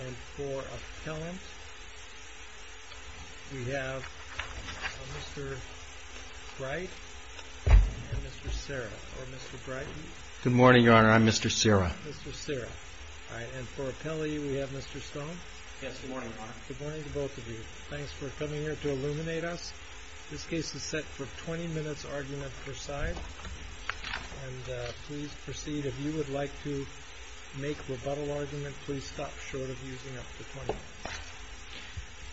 And for appellant, we have Mr. Bright and Mr. Serra, or Mr. Bright. Good morning, Your Honor. I'm Mr. Serra. Mr. Serra. All right. And for appellee, we have Mr. Stone. Yes, good morning, Your Honor. Good morning to both of you. Thanks for coming here to illuminate us. This case is set for 20 minutes argument per side. And please proceed. If you would like to make rebuttal argument, please stop short of using up to 20 minutes.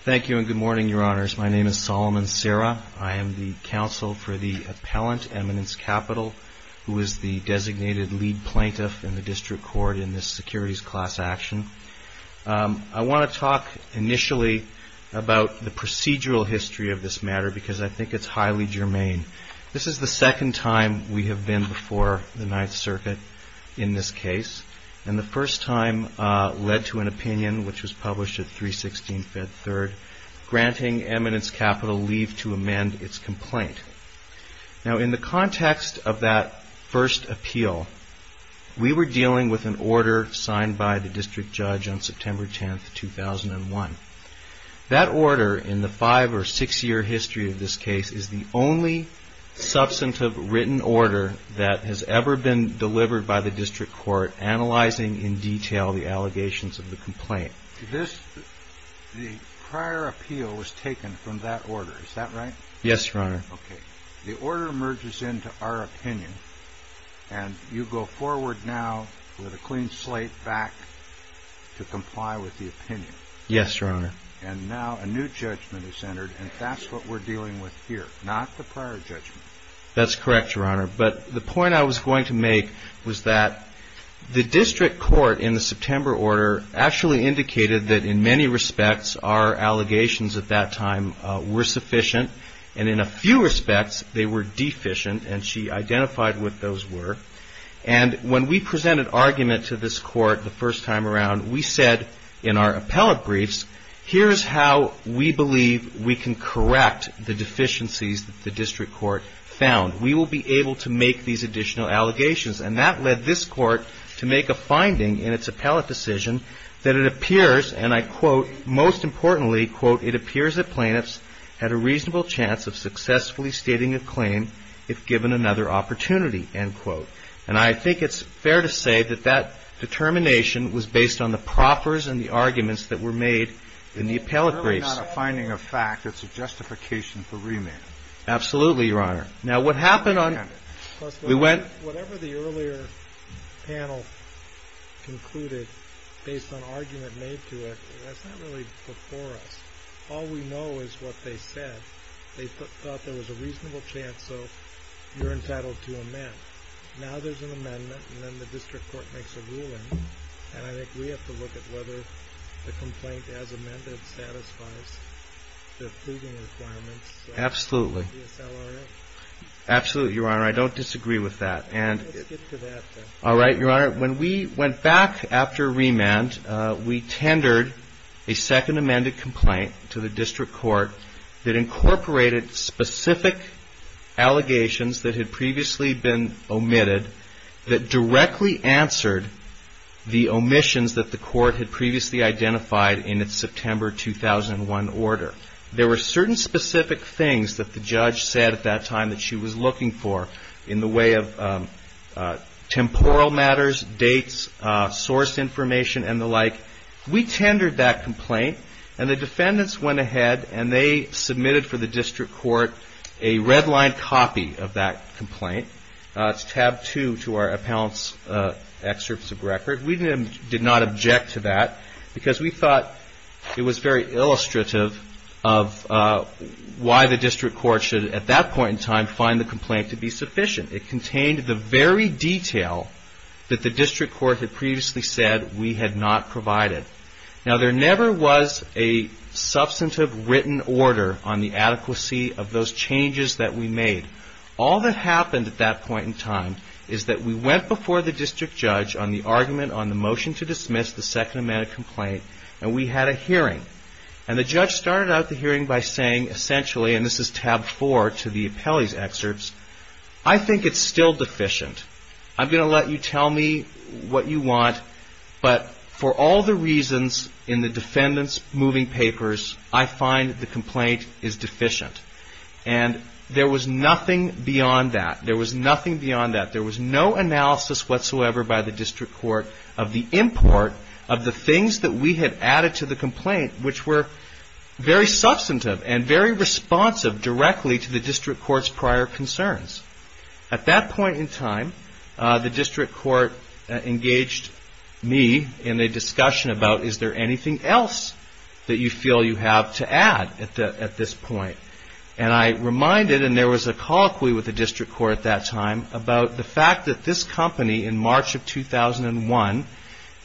Thank you and good morning, Your Honors. My name is Solomon Serra. I am the counsel for the appellant, Eminence Capital, who is the designated lead plaintiff in the district court in this securities class action. I want to talk initially about the procedural history of this matter because I think it's highly germane. This is the second time we have been before the Ninth Circuit in this case. And the first time led to an opinion, which was published at 316 Fed Third, granting Eminence Capital leave to amend its complaint. Now, in the context of that first appeal, we were dealing with an order signed by the district judge on September 10th, 2001. That order in the five or six year history of this case is the only substantive written order that has ever been delivered by the district court analyzing in detail the allegations of the complaint. The prior appeal was taken from that order. Is that right? Yes, Your Honor. Okay. The order merges into our opinion and you go forward now with a clean slate back to comply with the opinion. Yes, Your Honor. And now a new judgment is entered and that's what we're dealing with here, not the prior judgment. That's correct, Your Honor. But the point I was going to make was that the district court in the September order actually indicated that in many respects our allegations at that time were sufficient. And in a few respects, they were deficient and she identified what those were. And when we presented argument to this court the first time around, we said in our appellate briefs, here's how we believe we can correct the deficiencies that the district court found. We will be able to make these additional allegations. And that led this court to make a finding in its appellate decision that it appears, and I quote, most importantly, quote, it appears that plaintiffs had a reasonable chance of successfully stating a claim if given another opportunity, end quote. And I think it's fair to say that that determination was based on the proffers and the arguments that were made in the appellate briefs. It's really not a finding of fact. It's a justification for remand. Absolutely, Your Honor. Now, whatever the earlier panel concluded based on argument made to it, that's not really before us. All we know is what they said. They thought there was a reasonable chance, so you're entitled to amend. Now there's an amendment, and then the district court makes a ruling, and I think we have to look at whether the complaint as amended satisfies the proving requirements of the DSLRA. Absolutely, Your Honor. I don't disagree with that. All right, Your Honor. When we went back after remand, we tendered a second amended complaint to the district court that incorporated specific allegations that had previously been omitted that directly answered the omissions that the court had previously identified in its September 2001 order. There were certain specific things that the judge said at that time that she was looking for in the way of temporal matters, dates, source information, and the like. We tendered that complaint, and the defendants went ahead and they submitted for the district court a redlined copy of that complaint. It's tab two to our appellant's excerpts of record. We did not object to that because we thought it was very illustrative of why the district court should, at that point in time, find the complaint to be sufficient. It contained the very detail that the district court had previously said we had not provided. Now there never was a substantive written order on the adequacy of those changes that we made. All that happened at that point in time is that we went before the district judge on the argument on the motion to dismiss the second amended complaint, and we had a hearing. And the judge started out the hearing by saying, essentially, and this is tab four to the appellee's excerpts, I think it's still deficient. I'm going to let you tell me what you want, but for all the reasons in the defendant's moving papers, I find the complaint is deficient. And there was nothing beyond that. There was nothing beyond that. There was no analysis whatsoever by the district court of the import of the things that we had added to the complaint, which were very substantive and very responsive directly to the district court's prior concerns. At that point in time, the district court engaged me in a discussion about, is there anything else that you feel you have to add at this point? And I reminded, and there was a colloquy with the district court at that time, about the fact that this company, in March of 2001,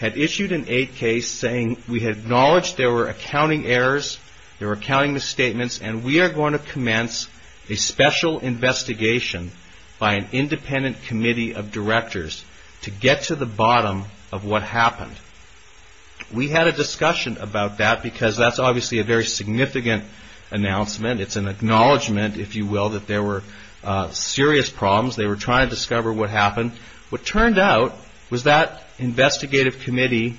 had issued an aid case saying, we had acknowledged there were accounting errors, there were accounting misstatements, and we are going to commence a special investigation by an independent committee of directors to get to the bottom of what happened. We had a discussion about that because that's obviously a very significant announcement. It's an acknowledgement, if you will, that there were serious problems. They were trying to discover what happened. What turned out was that investigative committee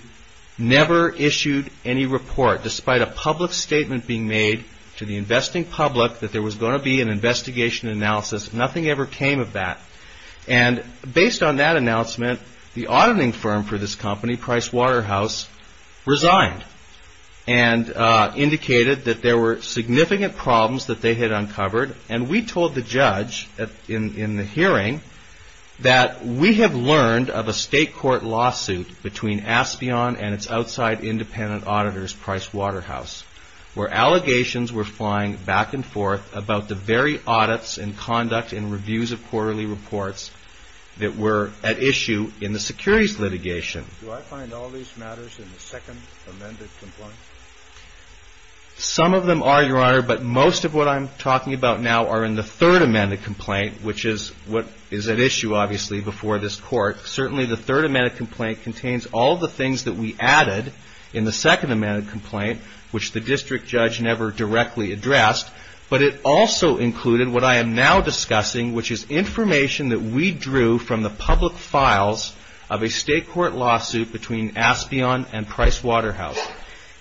never issued any report, despite a public statement being made to the investing public that there was going to be an investigation analysis. Nothing ever came of that. And based on that announcement, the auditing firm for this company, Price Waterhouse, resigned and indicated that there were significant problems that they had uncovered. And we told the judge in the hearing that we have learned of a state court lawsuit between Aspion and its outside independent auditors, Price Waterhouse, where allegations were flying back and forth about the very audits and conduct and reviews of quarterly reports that were at issue in the securities litigation. Do I find all these matters in the second amended complaint? Some of them are, Your Honor, but most of what I'm talking about now are in the third amended complaint, which is what is at issue, obviously, before this court. Certainly the third amended complaint contains all the things that we added in the second amended complaint, which the district judge never directly addressed, but it also included what I am now discussing, which is information that we drew from the public files of a state court lawsuit between Aspion and Price Waterhouse.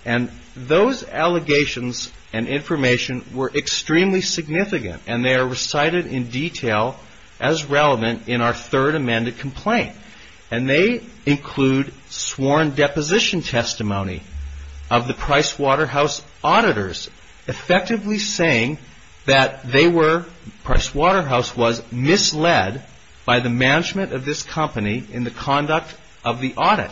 And those allegations and information were extremely significant, and they are recited in detail as relevant in our third amended complaint. And they include sworn deposition testimony of the Price Waterhouse auditors, effectively saying that Price Waterhouse was misled by the management of this company in the conduct of the audit,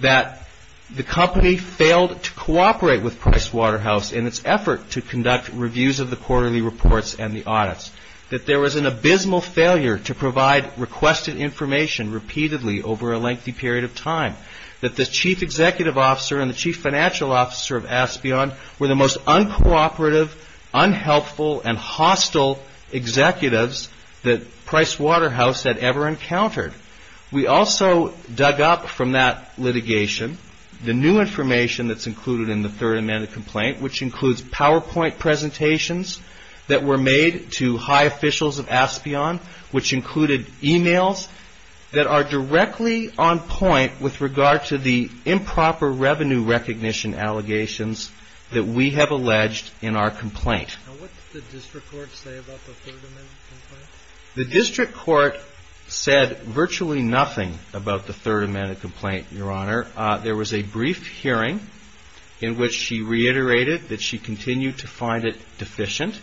that the company failed to cooperate with Price Waterhouse in its effort to conduct reviews of the quarterly reports and the audits, that there was an abysmal failure to provide requested information repeatedly over a lengthy period of time, that the chief executive officer and the chief financial officer of Aspion were the most uncooperative, unhelpful, and hostile executives that Price Waterhouse had ever encountered. We also dug up from that litigation the new information that's included in the third amended complaint, which includes PowerPoint presentations that were made to high officials of Aspion, which included emails that are directly on point with regard to the improper revenue recognition allegations that we have alleged in our complaint. And what did the district court say about the third amended complaint? The district court said virtually nothing about the third amended complaint, your honor. There was a brief hearing in which she reiterated that she continued to find it deficient,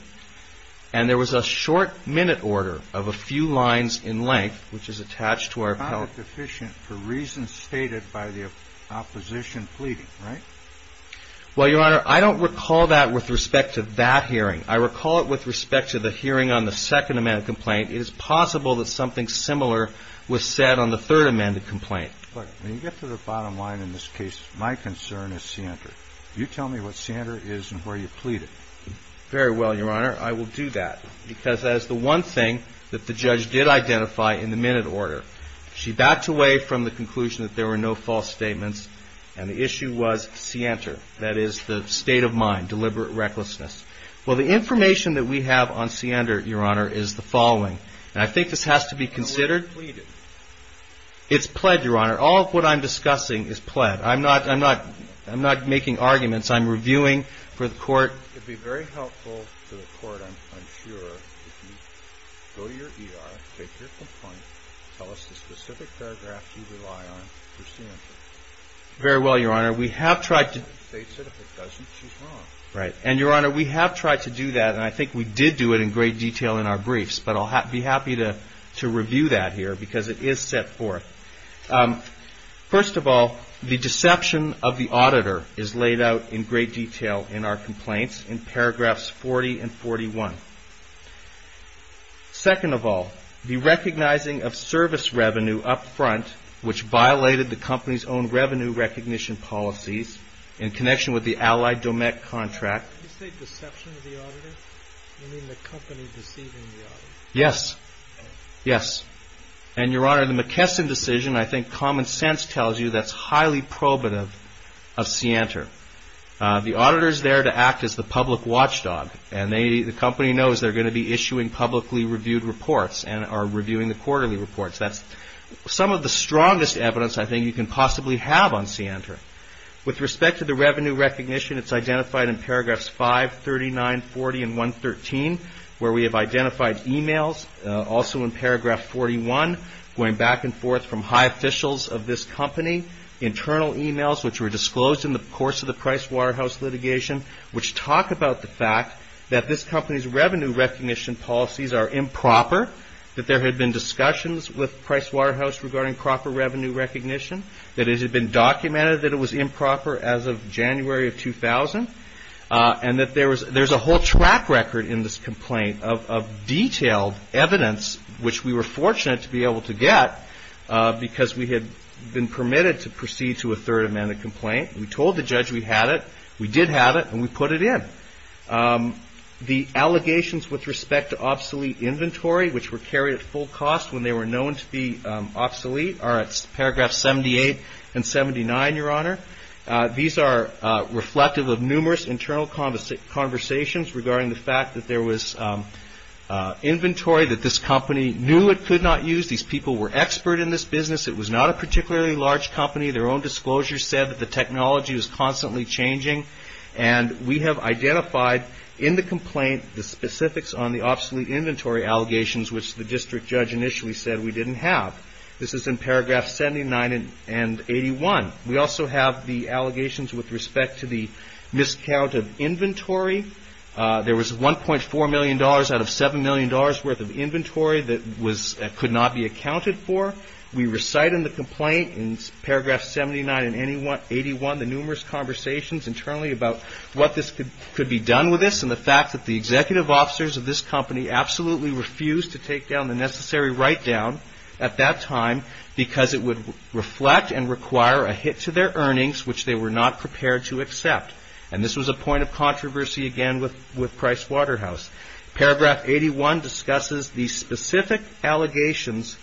and there was a short minute order of a few lines in length, which is attached to our appellate... It's not deficient for reasons stated by the opposition pleading, right? Well, your honor, I don't recall that with respect to that hearing. I recall it with respect to the hearing on the second amended complaint. It is possible that something similar was said on the third amended complaint. When you get to the bottom line in this case, my concern is Sander. You tell me what Sander is and where you plead it. Very well, your honor. I will do that because that is the one thing that the judge did identify in the minute order. She backed away from the conclusion that there were no false statements, and the issue was Sander. That is the state of mind, deliberate recklessness. Well, the information that we have on Sander, your honor, is the following, and I think this has to be considered. It's pleaded. It's pled, your honor. All of what I'm discussing is pled. I'm not making arguments. I'm reviewing for the court. Your honor, it would be very helpful to the court, I'm sure, if you go to your ER, take your complaint, tell us the specific paragraph you rely on for Sander. Very well, your honor. We have tried to... If it states it, if it doesn't, she's wrong. Right. And, your honor, we have tried to do that, and I think we did do it in great detail in our briefs, but I'll be happy to review that here because it is set forth. First of all, the deception of the auditor is laid out in great detail in our complaints in paragraphs 40 and 41. Second of all, the recognizing of service revenue up front, which violated the company's own revenue recognition policies in connection with the Allied Domet contract... Did you say deception of the auditor? You mean the company deceiving the auditor? Yes. Yes. And, your honor, the McKesson decision, I think common sense tells you that's highly probative of Sander. The auditor is there to act as the public watchdog, and the company knows they're going to be issuing publicly reviewed reports and are reviewing the quarterly reports. That's some of the strongest evidence I think you can possibly have on Sander. With respect to the revenue recognition, it's identified in paragraphs 5, 39, 40, and 113, where we have identified e-mails, also in paragraph 41, going back and forth from high officials of this company, internal e-mails which were disclosed in the course of the Price Waterhouse litigation, which talk about the fact that this company's revenue recognition policies are improper, that there had been discussions with Price Waterhouse regarding proper revenue recognition, that it had been documented that it was improper as of January of 2000, and that there's a whole track record in this complaint of detailed evidence, which we were fortunate to be able to get, because we had been permitted to proceed to a Third Amendment complaint. We told the judge we had it. We did have it, and we put it in. The allegations with respect to obsolete inventory, which were carried at full cost when they were known to be obsolete, are at paragraphs 78 and 79, Your Honor. These are reflective of numerous internal conversations regarding the fact that there was inventory that this company knew it could not use. These people were expert in this business. It was not a particularly large company. Their own disclosure said that the technology was constantly changing, and we have identified in the complaint the specifics on the obsolete inventory allegations, which the district judge initially said we didn't have. This is in paragraphs 79 and 81. We also have the allegations with respect to the miscount of inventory. There was $1.4 million out of $7 million worth of inventory that could not be accounted for. We recite in the complaint in paragraphs 79 and 81 the numerous conversations internally about what this could be done with this and the fact that the executive officers of this company absolutely refused to take down the necessary write-down at that time because it would reflect and require a hit to their earnings, which they were not prepared to accept. And this was a point of controversy again with Price Waterhouse. Paragraph 81 discusses the specific allegations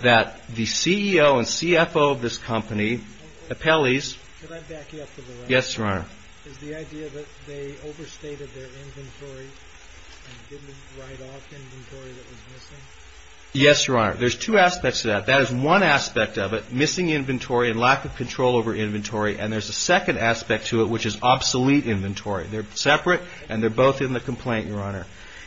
that the CEO and CFO of this company appellees. Can I back you up for a moment? Yes, Your Honor. Is the idea that they overstated their inventory and didn't write off inventory that was missing? Yes, Your Honor. There's two aspects to that. That is one aspect of it, missing inventory and lack of control over inventory, and there's a second aspect to it, which is obsolete inventory. They're separate and they're both in the complaint, Your Honor.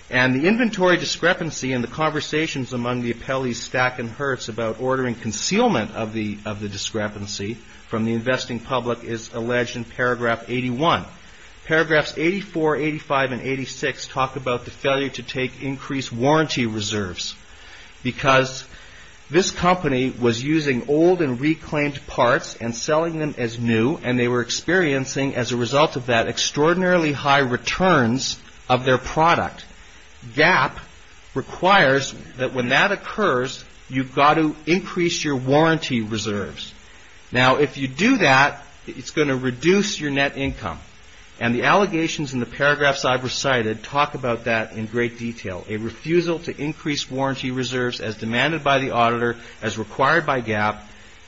And the inventory discrepancy in the conversations among the appellees stack and hurts about ordering concealment of the discrepancy from the investing public is alleged in paragraph 81. Paragraphs 84, 85, and 86 talk about the failure to take increased warranty reserves because this company was using old and reclaimed parts and selling them as new and they were experiencing as a result of that extraordinarily high returns of their product. GAAP requires that when that occurs, you've got to increase your warranty reserves. Now, if you do that, it's going to reduce your net income. And the allegations in the paragraphs I've recited talk about that in great detail. A refusal to increase warranty reserves as demanded by the auditor, as required by GAAP,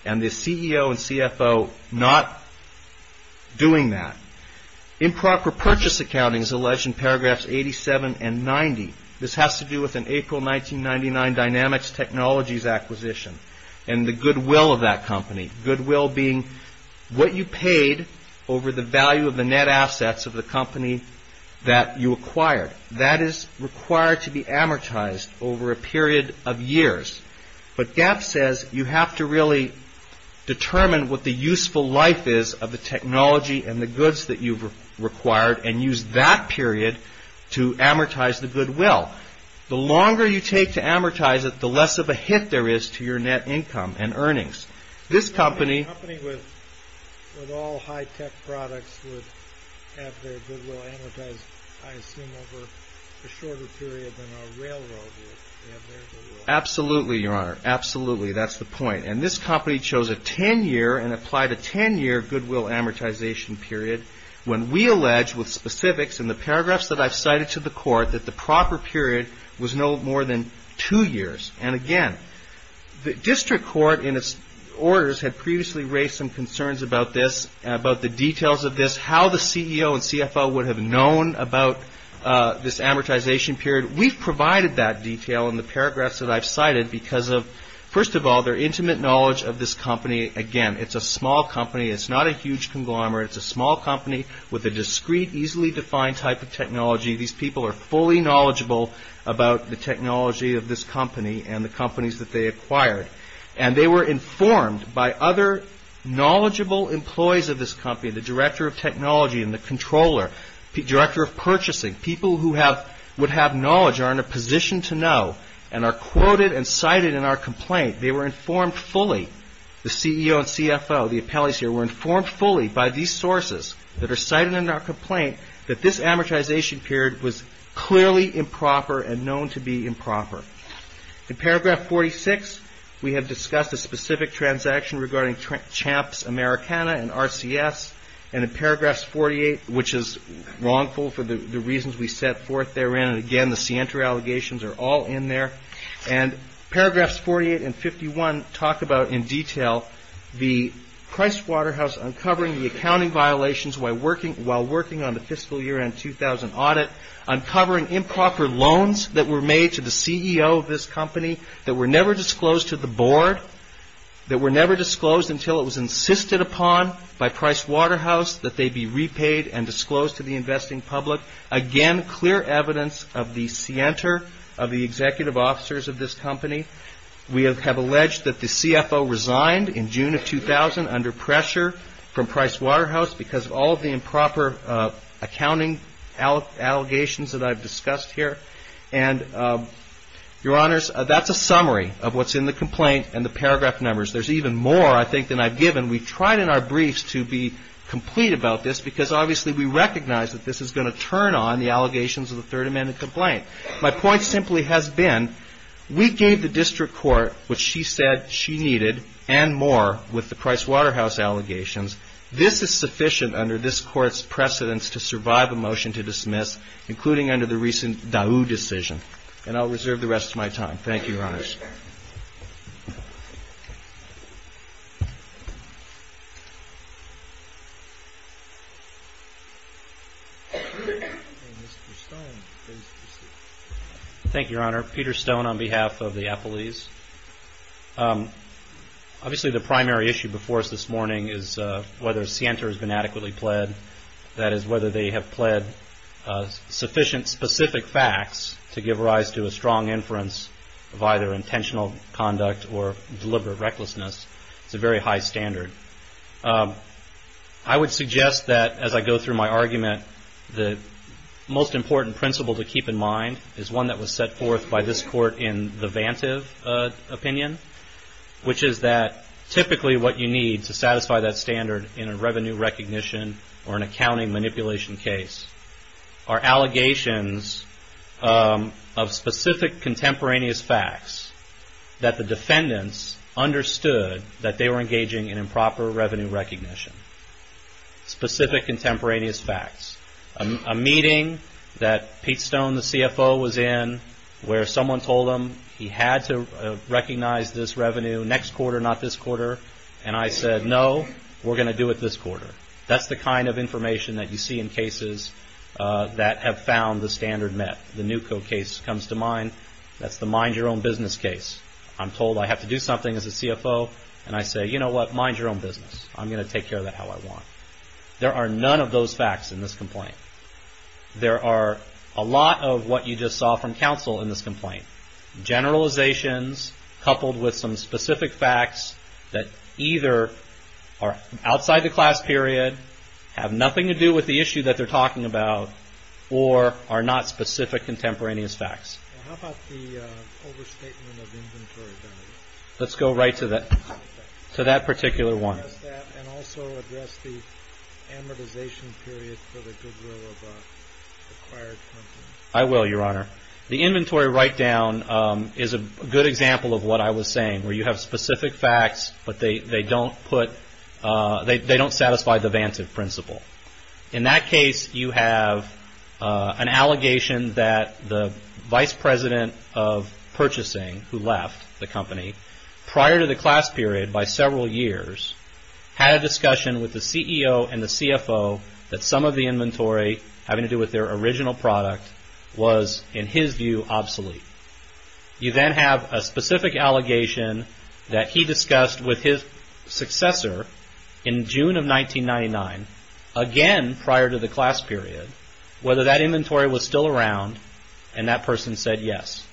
and the CEO and CFO not doing that. Improper purchase accounting is alleged in paragraphs 87 and 90. This has to do with an April 1999 Dynamics Technologies acquisition and the goodwill of that company. Goodwill being what you paid over the value of the net assets of the company that you acquired. That is required to be amortized over a period of years. But GAAP says you have to really determine what the useful life is of the technology and the goods that you've required and use that period to amortize the goodwill. The longer you take to amortize it, the less of a hit there is to your net income and earnings. This company... A company with all high-tech products would have their goodwill amortized, I assume, Absolutely, Your Honor. Absolutely. That's the point. And this company chose a ten-year and applied a ten-year goodwill amortization period when we allege with specifics in the paragraphs that I've cited to the court that the proper period was no more than two years. And again, the district court in its orders had previously raised some concerns about this, about the details of this, how the CEO and CFO would have known about this amortization period. We've provided that detail in the paragraphs that I've cited because of, first of all, their intimate knowledge of this company. Again, it's a small company. It's not a huge conglomerate. It's a small company with a discrete, easily defined type of technology. These people are fully knowledgeable about the technology of this company and the companies that they acquired. And they were informed by other knowledgeable employees of this company, the director of technology and the controller, the director of purchasing, people who would have knowledge, are in a position to know and are quoted and cited in our complaint. They were informed fully, the CEO and CFO, the appellees here, were informed fully by these sources that are cited in our complaint that this amortization period was clearly improper and known to be improper. In paragraph 46, we have discussed a specific transaction regarding Champs Americana and RCS, and in paragraphs 48, which is wrongful for the reasons we set forth therein, and again, the scienter allegations are all in there, and paragraphs 48 and 51 talk about in detail the Pricewaterhouse uncovering the accounting violations while working on the fiscal year end 2000 audit, uncovering improper loans that were made to the CEO of this company that were never disclosed to the board, that were never disclosed until it was insisted upon by Pricewaterhouse that they be repaid and disclosed to the investing public. Again, clear evidence of the scienter, of the executive officers of this company. We have alleged that the CFO resigned in June of 2000 under pressure from Pricewaterhouse because of all of the improper accounting allegations that I've discussed here. And, Your Honors, that's a summary of what's in the complaint and the paragraph numbers. There's even more, I think, than I've given. We've tried in our briefs to be complete about this because, obviously, we recognize that this is going to turn on the allegations of the Third Amendment complaint. My point simply has been we gave the district court what she said she needed and more with the Pricewaterhouse allegations. This is sufficient under this court's precedence to survive a motion to dismiss, including under the recent Dau decision. And I'll reserve the rest of my time. Thank you, Your Honors. Thank you, Your Honor. Peter Stone on behalf of the appellees. Obviously, the primary issue before us this morning is whether scienter has been adequately pled. That is, whether they have pled sufficient specific facts to give rise to a strong inference of either intentional conduct or deliberate recklessness. It's a very high standard. I would suggest that as I go through my argument, that the most important principle to keep in mind is one that was set forth by this court in the Vantive opinion, which is that typically what you need to satisfy that standard in a revenue recognition or an accounting manipulation case are allegations of specific contemporaneous facts that the defendants understood that they were engaging in improper revenue recognition. Specific contemporaneous facts. A meeting that Pete Stone, the CFO, was in where someone told him he had to recognize this revenue next quarter, not this quarter. And I said, no, we're going to do it this quarter. That's the kind of information that you see in cases that have found the standard met. The Newco case comes to mind. That's the mind your own business case. I'm told I have to do something as a CFO. And I say, you know what, mind your own business. I'm going to take care of that how I want. There are none of those facts in this complaint. There are a lot of what you just saw from counsel in this complaint. Generalizations coupled with some specific facts that either are outside the class period, have nothing to do with the issue that they're talking about, or are not specific contemporaneous facts. How about the overstatement of inventory value? Let's go right to that particular one. And also address the amortization period for the goodwill of acquired companies. I will, Your Honor. The inventory write-down is a good example of what I was saying, where you have specific facts, but they don't satisfy the Vantive Principle. In that case, you have an allegation that the Vice President of Purchasing, who left the company, prior to the class period by several years, had a discussion with the CEO and the CFO that some of the inventory having to do with their original product was, in his view, obsolete. You then have a specific allegation that he discussed with his successor in June of 1999, again prior to the class period, whether that inventory was still around, and that person said yes.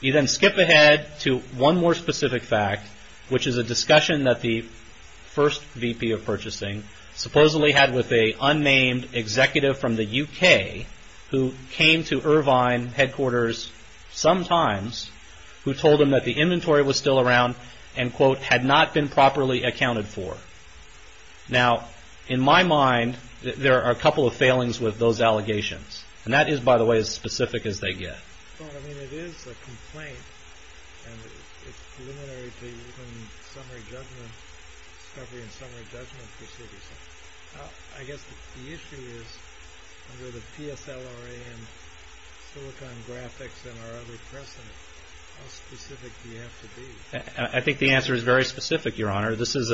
You then skip ahead to one more specific fact, which is a discussion that the first VP of Purchasing supposedly had with a unnamed executive from the UK, who came to Irvine headquarters sometimes, who told him that the inventory was still around and, quote, had not been properly accounted for. Now, in my mind, there are a couple of failings with those allegations, and that is, by the way, as specific as they get. Well, I mean, it is a complaint, and it's preliminary to even summary judgment, discovery and summary judgment proceedings. I guess the issue is, under the PSLRA and Silicon Graphics and our other precedent, how specific do you have to be? I think the answer is very specific, Your Honor. This is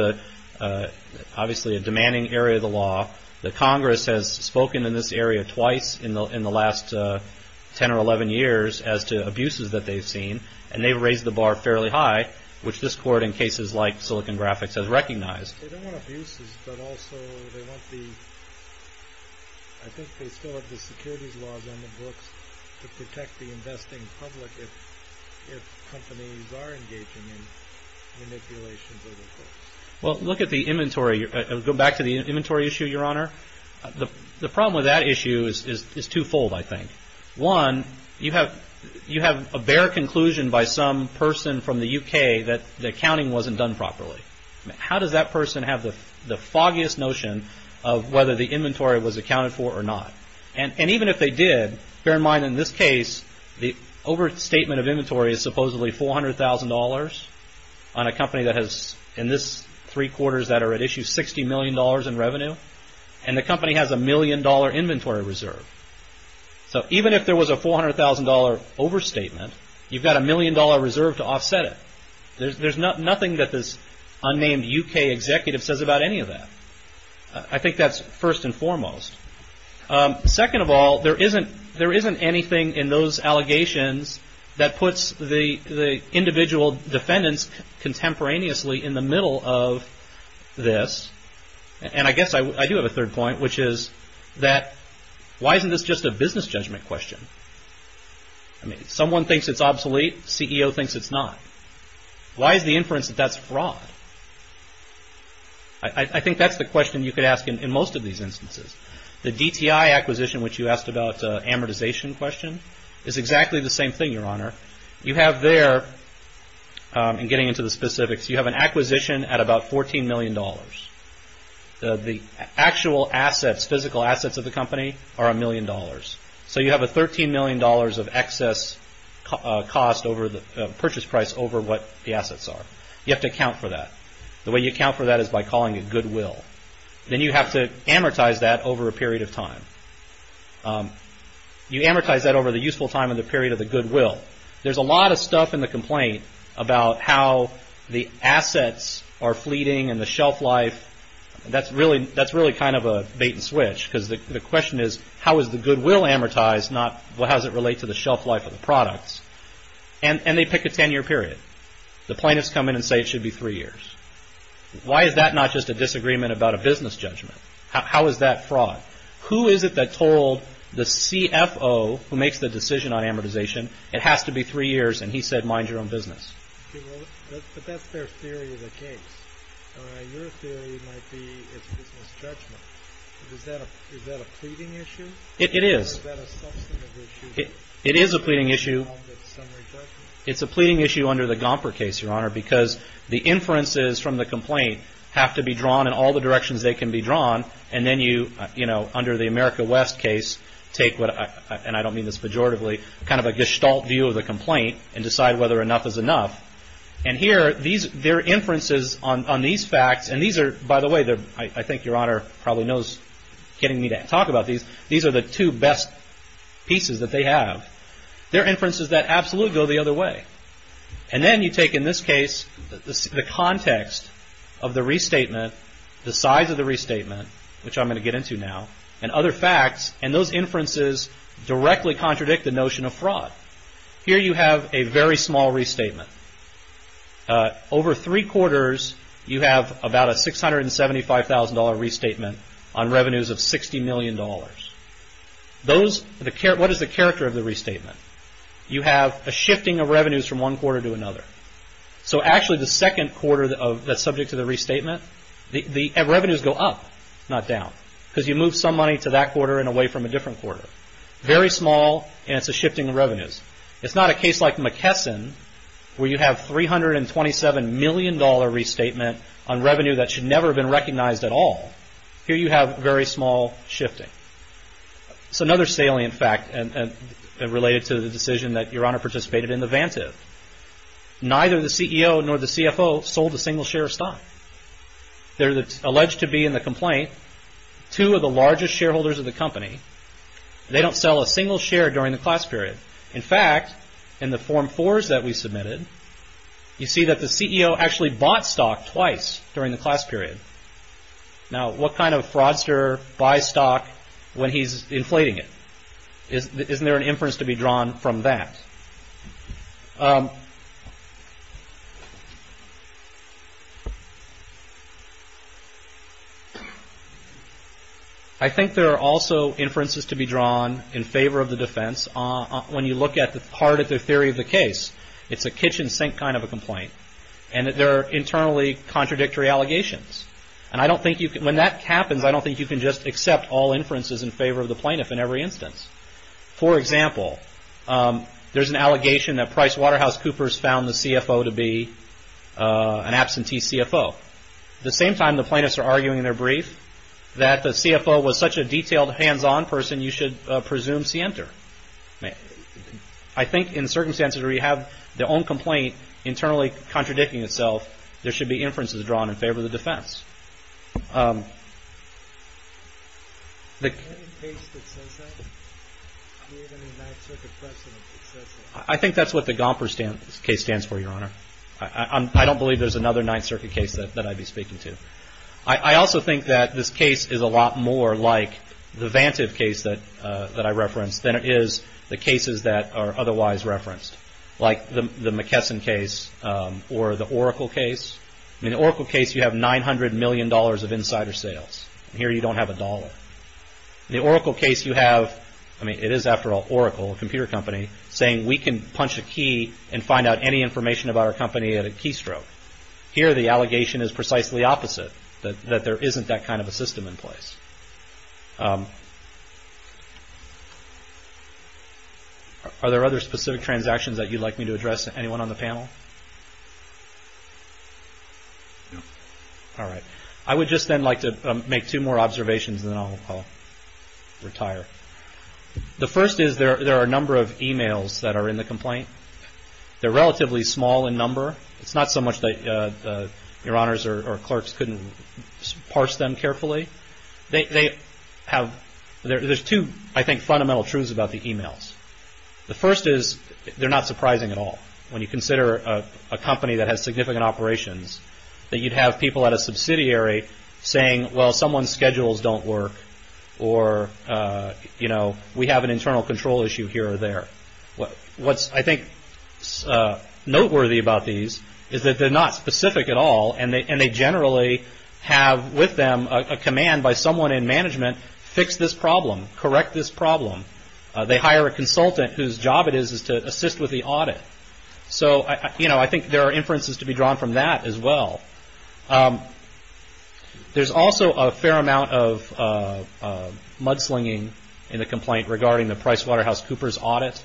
obviously a demanding area of the law. The Congress has spoken in this area twice in the last 10 or 11 years as to abuses that they've seen, and they've raised the bar fairly high, which this Court, in cases like Silicon Graphics, has recognized. They don't want abuses, but also they want the – I think they still have the securities laws on the books to protect the investing public if companies are engaging in manipulations of the books. Well, look at the inventory. Go back to the inventory issue, Your Honor. The problem with that issue is twofold, I think. One, you have a bare conclusion by some person from the U.K. that the accounting wasn't done properly. How does that person have the foggiest notion of whether the inventory was accounted for or not? And even if they did, bear in mind in this case, the overstatement of inventory is supposedly $400,000 on a company that has, in this three quarters that are at issue, $60 million in revenue, and the company has a million-dollar inventory reserve. So even if there was a $400,000 overstatement, you've got a million-dollar reserve to offset it. There's nothing that this unnamed U.K. executive says about any of that. I think that's first and foremost. Second of all, there isn't anything in those allegations that puts the individual defendants contemporaneously in the middle of this. And I guess I do have a third point, which is that why isn't this just a business judgment question? I mean, someone thinks it's obsolete. The CEO thinks it's not. Why is the inference that that's fraud? I think that's the question you could ask in most of these instances. The DTI acquisition, which you asked about, amortization question, is exactly the same thing, Your Honor. You have there, and getting into the specifics, you have an acquisition at about $14 million. The actual assets, physical assets of the company are a million dollars. So you have a $13 million of excess cost over the purchase price over what the assets are. You have to account for that. The way you account for that is by calling it goodwill. Then you have to amortize that over a period of time. You amortize that over the useful time and the period of the goodwill. There's a lot of stuff in the complaint about how the assets are fleeting and the shelf life. That's really kind of a bait and switch because the question is, how is the goodwill amortized, not how does it relate to the shelf life of the products? And they pick a 10-year period. The plaintiffs come in and say it should be three years. Why is that not just a disagreement about a business judgment? How is that fraud? Who is it that told the CFO who makes the decision on amortization, it has to be three years, and he said, mind your own business? But that's their theory of the case. Your theory might be it's a business judgment. Is that a pleading issue? It is. Or is that a substantive issue? It is a pleading issue. It's a pleading issue under the Gomper case, Your Honor, because the inferences from the complaint have to be drawn in all the directions they can be drawn, and then you, you know, under the America West case, take what, and I don't mean this pejoratively, kind of a gestalt view of the complaint and decide whether enough is enough. And here, their inferences on these facts, and these are, by the way, I think Your Honor probably knows, getting me to talk about these, these are the two best pieces that they have. They're inferences that absolutely go the other way. And then you take, in this case, the context of the restatement, the size of the restatement, which I'm going to get into now, and other facts, and those inferences directly contradict the notion of fraud. Here you have a very small restatement. Over three quarters, you have about a $675,000 restatement on revenues of $60 million. Those, what is the character of the restatement? You have a shifting of revenues from one quarter to another. So actually, the second quarter that's subject to the restatement, the revenues go up, not down, because you move some money to that quarter and away from a different quarter. Very small, and it's a shifting of revenues. It's not a case like McKesson, where you have $327 million restatement on revenue that should never have been recognized at all. Here you have very small shifting. So another salient fact related to the decision that Your Honor participated in, the Vantive. Neither the CEO nor the CFO sold a single share of stock. They're alleged to be, in the complaint, two of the largest shareholders of the company. They don't sell a single share during the class period. In fact, in the Form 4s that we submitted, you see that the CEO actually bought stock twice during the class period. Now, what kind of fraudster buys stock when he's inflating it? Isn't there an inference to be drawn from that? I think there are also inferences to be drawn in favor of the defense. When you look hard at the theory of the case, and that there are internally contradictory allegations. When that happens, I don't think you can just accept all inferences in favor of the plaintiff in every instance. For example, there's an allegation that Price Waterhouse Coopers found the CFO to be an absentee CFO. At the same time, the plaintiffs are arguing in their brief that the CFO was such a detailed, hands-on person, you should presume scienter. I think in circumstances where you have their own complaint internally contradicting itself, there should be inferences drawn in favor of the defense. I think that's what the Gomper case stands for, Your Honor. I don't believe there's another Ninth Circuit case that I'd be speaking to. I also think that this case is a lot more like the Vantive case that I referenced than it is the cases that are otherwise referenced, like the McKesson case or the Oracle case. In the Oracle case, you have $900 million of insider sales. Here, you don't have a dollar. In the Oracle case, you have, I mean, it is after all Oracle, a computer company, saying we can punch a key and find out any information about our company at a keystroke. Here, the allegation is precisely opposite, that there isn't that kind of a system in place. Are there other specific transactions that you'd like me to address? Anyone on the panel? All right. I would just then like to make two more observations, and then I'll retire. The first is there are a number of emails that are in the complaint. They're relatively small in number. It's not so much that your honors or clerks couldn't parse them carefully. They have – there's two, I think, fundamental truths about the emails. The first is they're not surprising at all. When you consider a company that has significant operations, that you'd have people at a subsidiary saying, well, someone's schedules don't work, or, you know, we have an internal control issue here or there. What's, I think, noteworthy about these is that they're not specific at all, and they generally have with them a command by someone in management, fix this problem, correct this problem. They hire a consultant whose job it is to assist with the audit. So, you know, I think there are inferences to be drawn from that as well. There's also a fair amount of mudslinging in the complaint regarding the PricewaterhouseCoopers audit,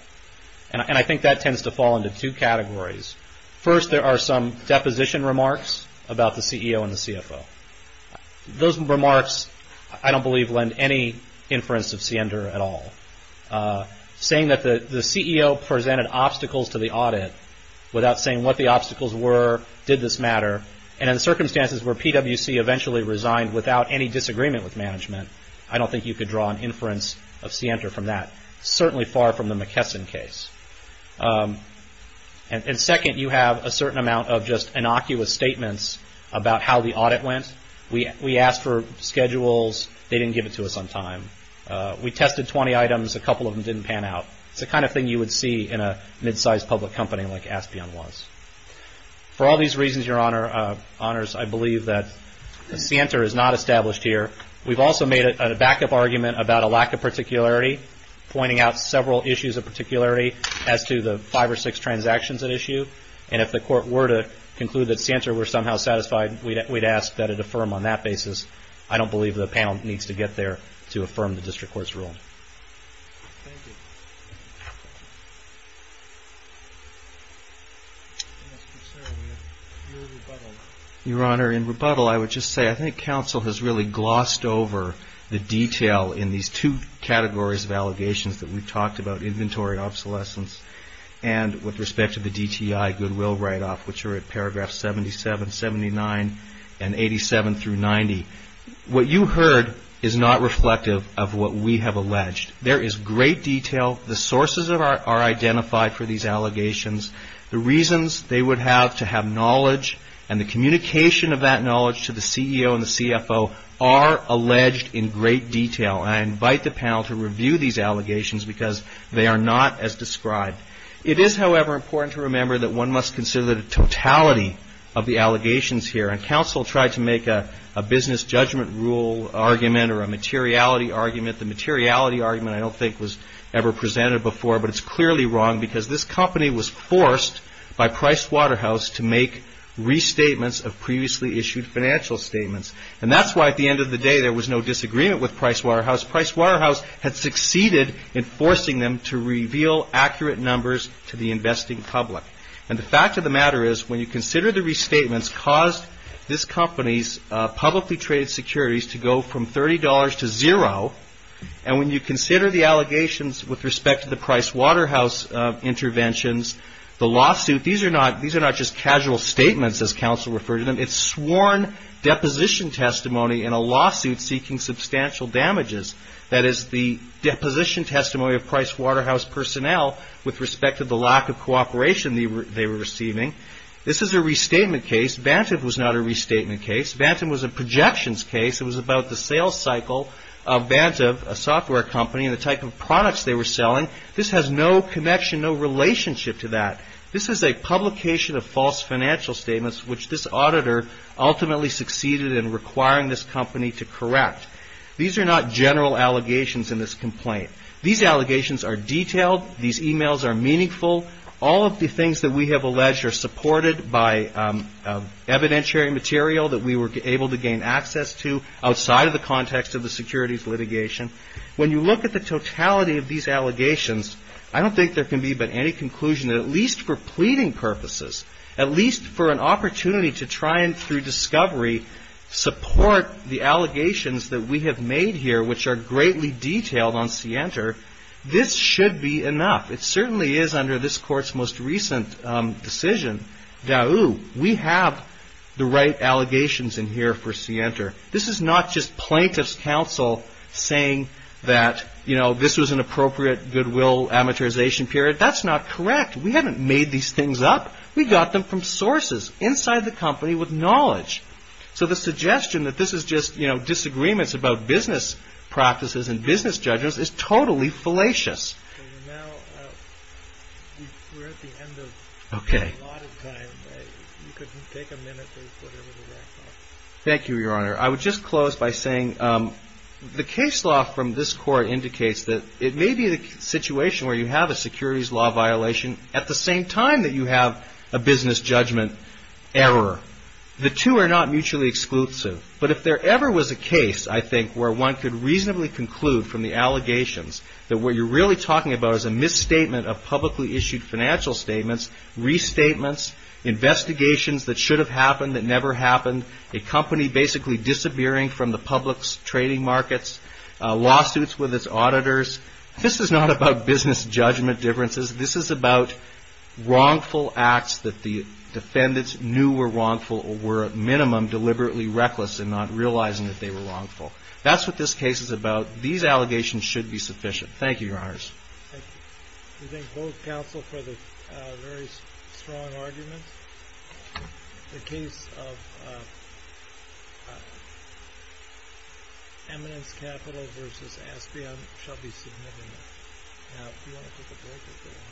and I think that tends to fall into two categories. First, there are some deposition remarks about the CEO and the CFO. Those remarks, I don't believe, lend any inference of Siender at all. Saying that the CEO presented obstacles to the audit without saying what the obstacles were, did this matter, and in circumstances where PWC eventually resigned without any disagreement with management, I don't think you could draw an inference of Siender from that, certainly far from the McKesson case. And second, you have a certain amount of just innocuous statements about how the audit went. We asked for schedules. They didn't give it to us on time. We tested 20 items. A couple of them didn't pan out. It's the kind of thing you would see in a mid-sized public company like Aspion was. For all these reasons, Your Honors, I believe that Siender is not established here. We've also made a backup argument about a lack of particularity, pointing out several issues of particularity as to the five or six transactions at issue, and if the Court were to conclude that Siender were somehow satisfied, we'd ask that it affirm on that basis. I don't believe the panel needs to get there to affirm the district court's rule. Thank you. Mr. Sarabia, your rebuttal. Your Honor, in rebuttal, I would just say I think counsel has really glossed over the detail in these two categories of allegations that we've talked about, inventory obsolescence, and with respect to the DTI goodwill write-off, which are at paragraphs 77, 79, and 87 through 90. What you heard is not reflective of what we have alleged. There is great detail. The sources are identified for these allegations. The reasons they would have to have knowledge and the communication of that knowledge to the CEO and the CFO are alleged in great detail. I invite the panel to review these allegations because they are not as described. It is, however, important to remember that one must consider the totality of the allegations here, and counsel tried to make a business judgment rule argument or a materiality argument. The materiality argument I don't think was ever presented before, but it's clearly wrong because this company was forced by Price Waterhouse to make restatements of previously issued financial statements, and that's why at the end of the day there was no disagreement with Price Waterhouse. Price Waterhouse had succeeded in forcing them to reveal accurate numbers to the investing public, and the fact of the matter is when you consider the restatements caused this company's publicly traded securities to go from $30 to zero, and when you consider the allegations with respect to the Price Waterhouse interventions, the lawsuit, these are not just casual statements as counsel referred to them. It's sworn deposition testimony in a lawsuit seeking substantial damages. That is the deposition testimony of Price Waterhouse personnel with respect to the lack of cooperation they were receiving. This is a restatement case. Bantam was not a restatement case. Bantam was a projections case. It was about the sales cycle of Bantam, a software company, and the type of products they were selling. This has no connection, no relationship to that. This is a publication of false financial statements which this auditor ultimately succeeded in requiring this company to correct. These are not general allegations in this complaint. These allegations are detailed. These e-mails are meaningful. All of the things that we have alleged are supported by evidentiary material that we were able to gain access to outside of the context of the securities litigation. When you look at the totality of these allegations, I don't think there can be but any conclusion that at least for pleading purposes, at least for an opportunity to try and, through discovery, support the allegations that we have made here which are greatly detailed on Sienter, this should be enough. It certainly is under this Court's most recent decision. We have the right allegations in here for Sienter. This is not just plaintiff's counsel saying that, you know, this was an appropriate goodwill amortization period. That's not correct. We haven't made these things up. We got them from sources inside the company with knowledge. So the suggestion that this is just, you know, disagreements about business practices and business judgments is totally fallacious. Okay. Thank you, Your Honor. I would just close by saying the case law from this Court indicates that it may be the situation where you have a securities law violation at the same time that you have a business judgment error. The two are not mutually exclusive. But if there ever was a case, I think, where one could reasonably conclude from the allegations that what you're really trying to do is a misstatement of publicly issued financial statements, restatements, investigations that should have happened that never happened, a company basically disappearing from the public's trading markets, lawsuits with its auditors. This is not about business judgment differences. This is about wrongful acts that the defendants knew were wrongful or were at minimum deliberately reckless in not realizing that they were wrongful. That's what this case is about. These allegations should be sufficient. Thank you, Your Honors. Thank you. We thank both counsel for the very strong arguments. The case of Eminence Capital v. Aspion shall be submitted now. Do you want to take a break or go on?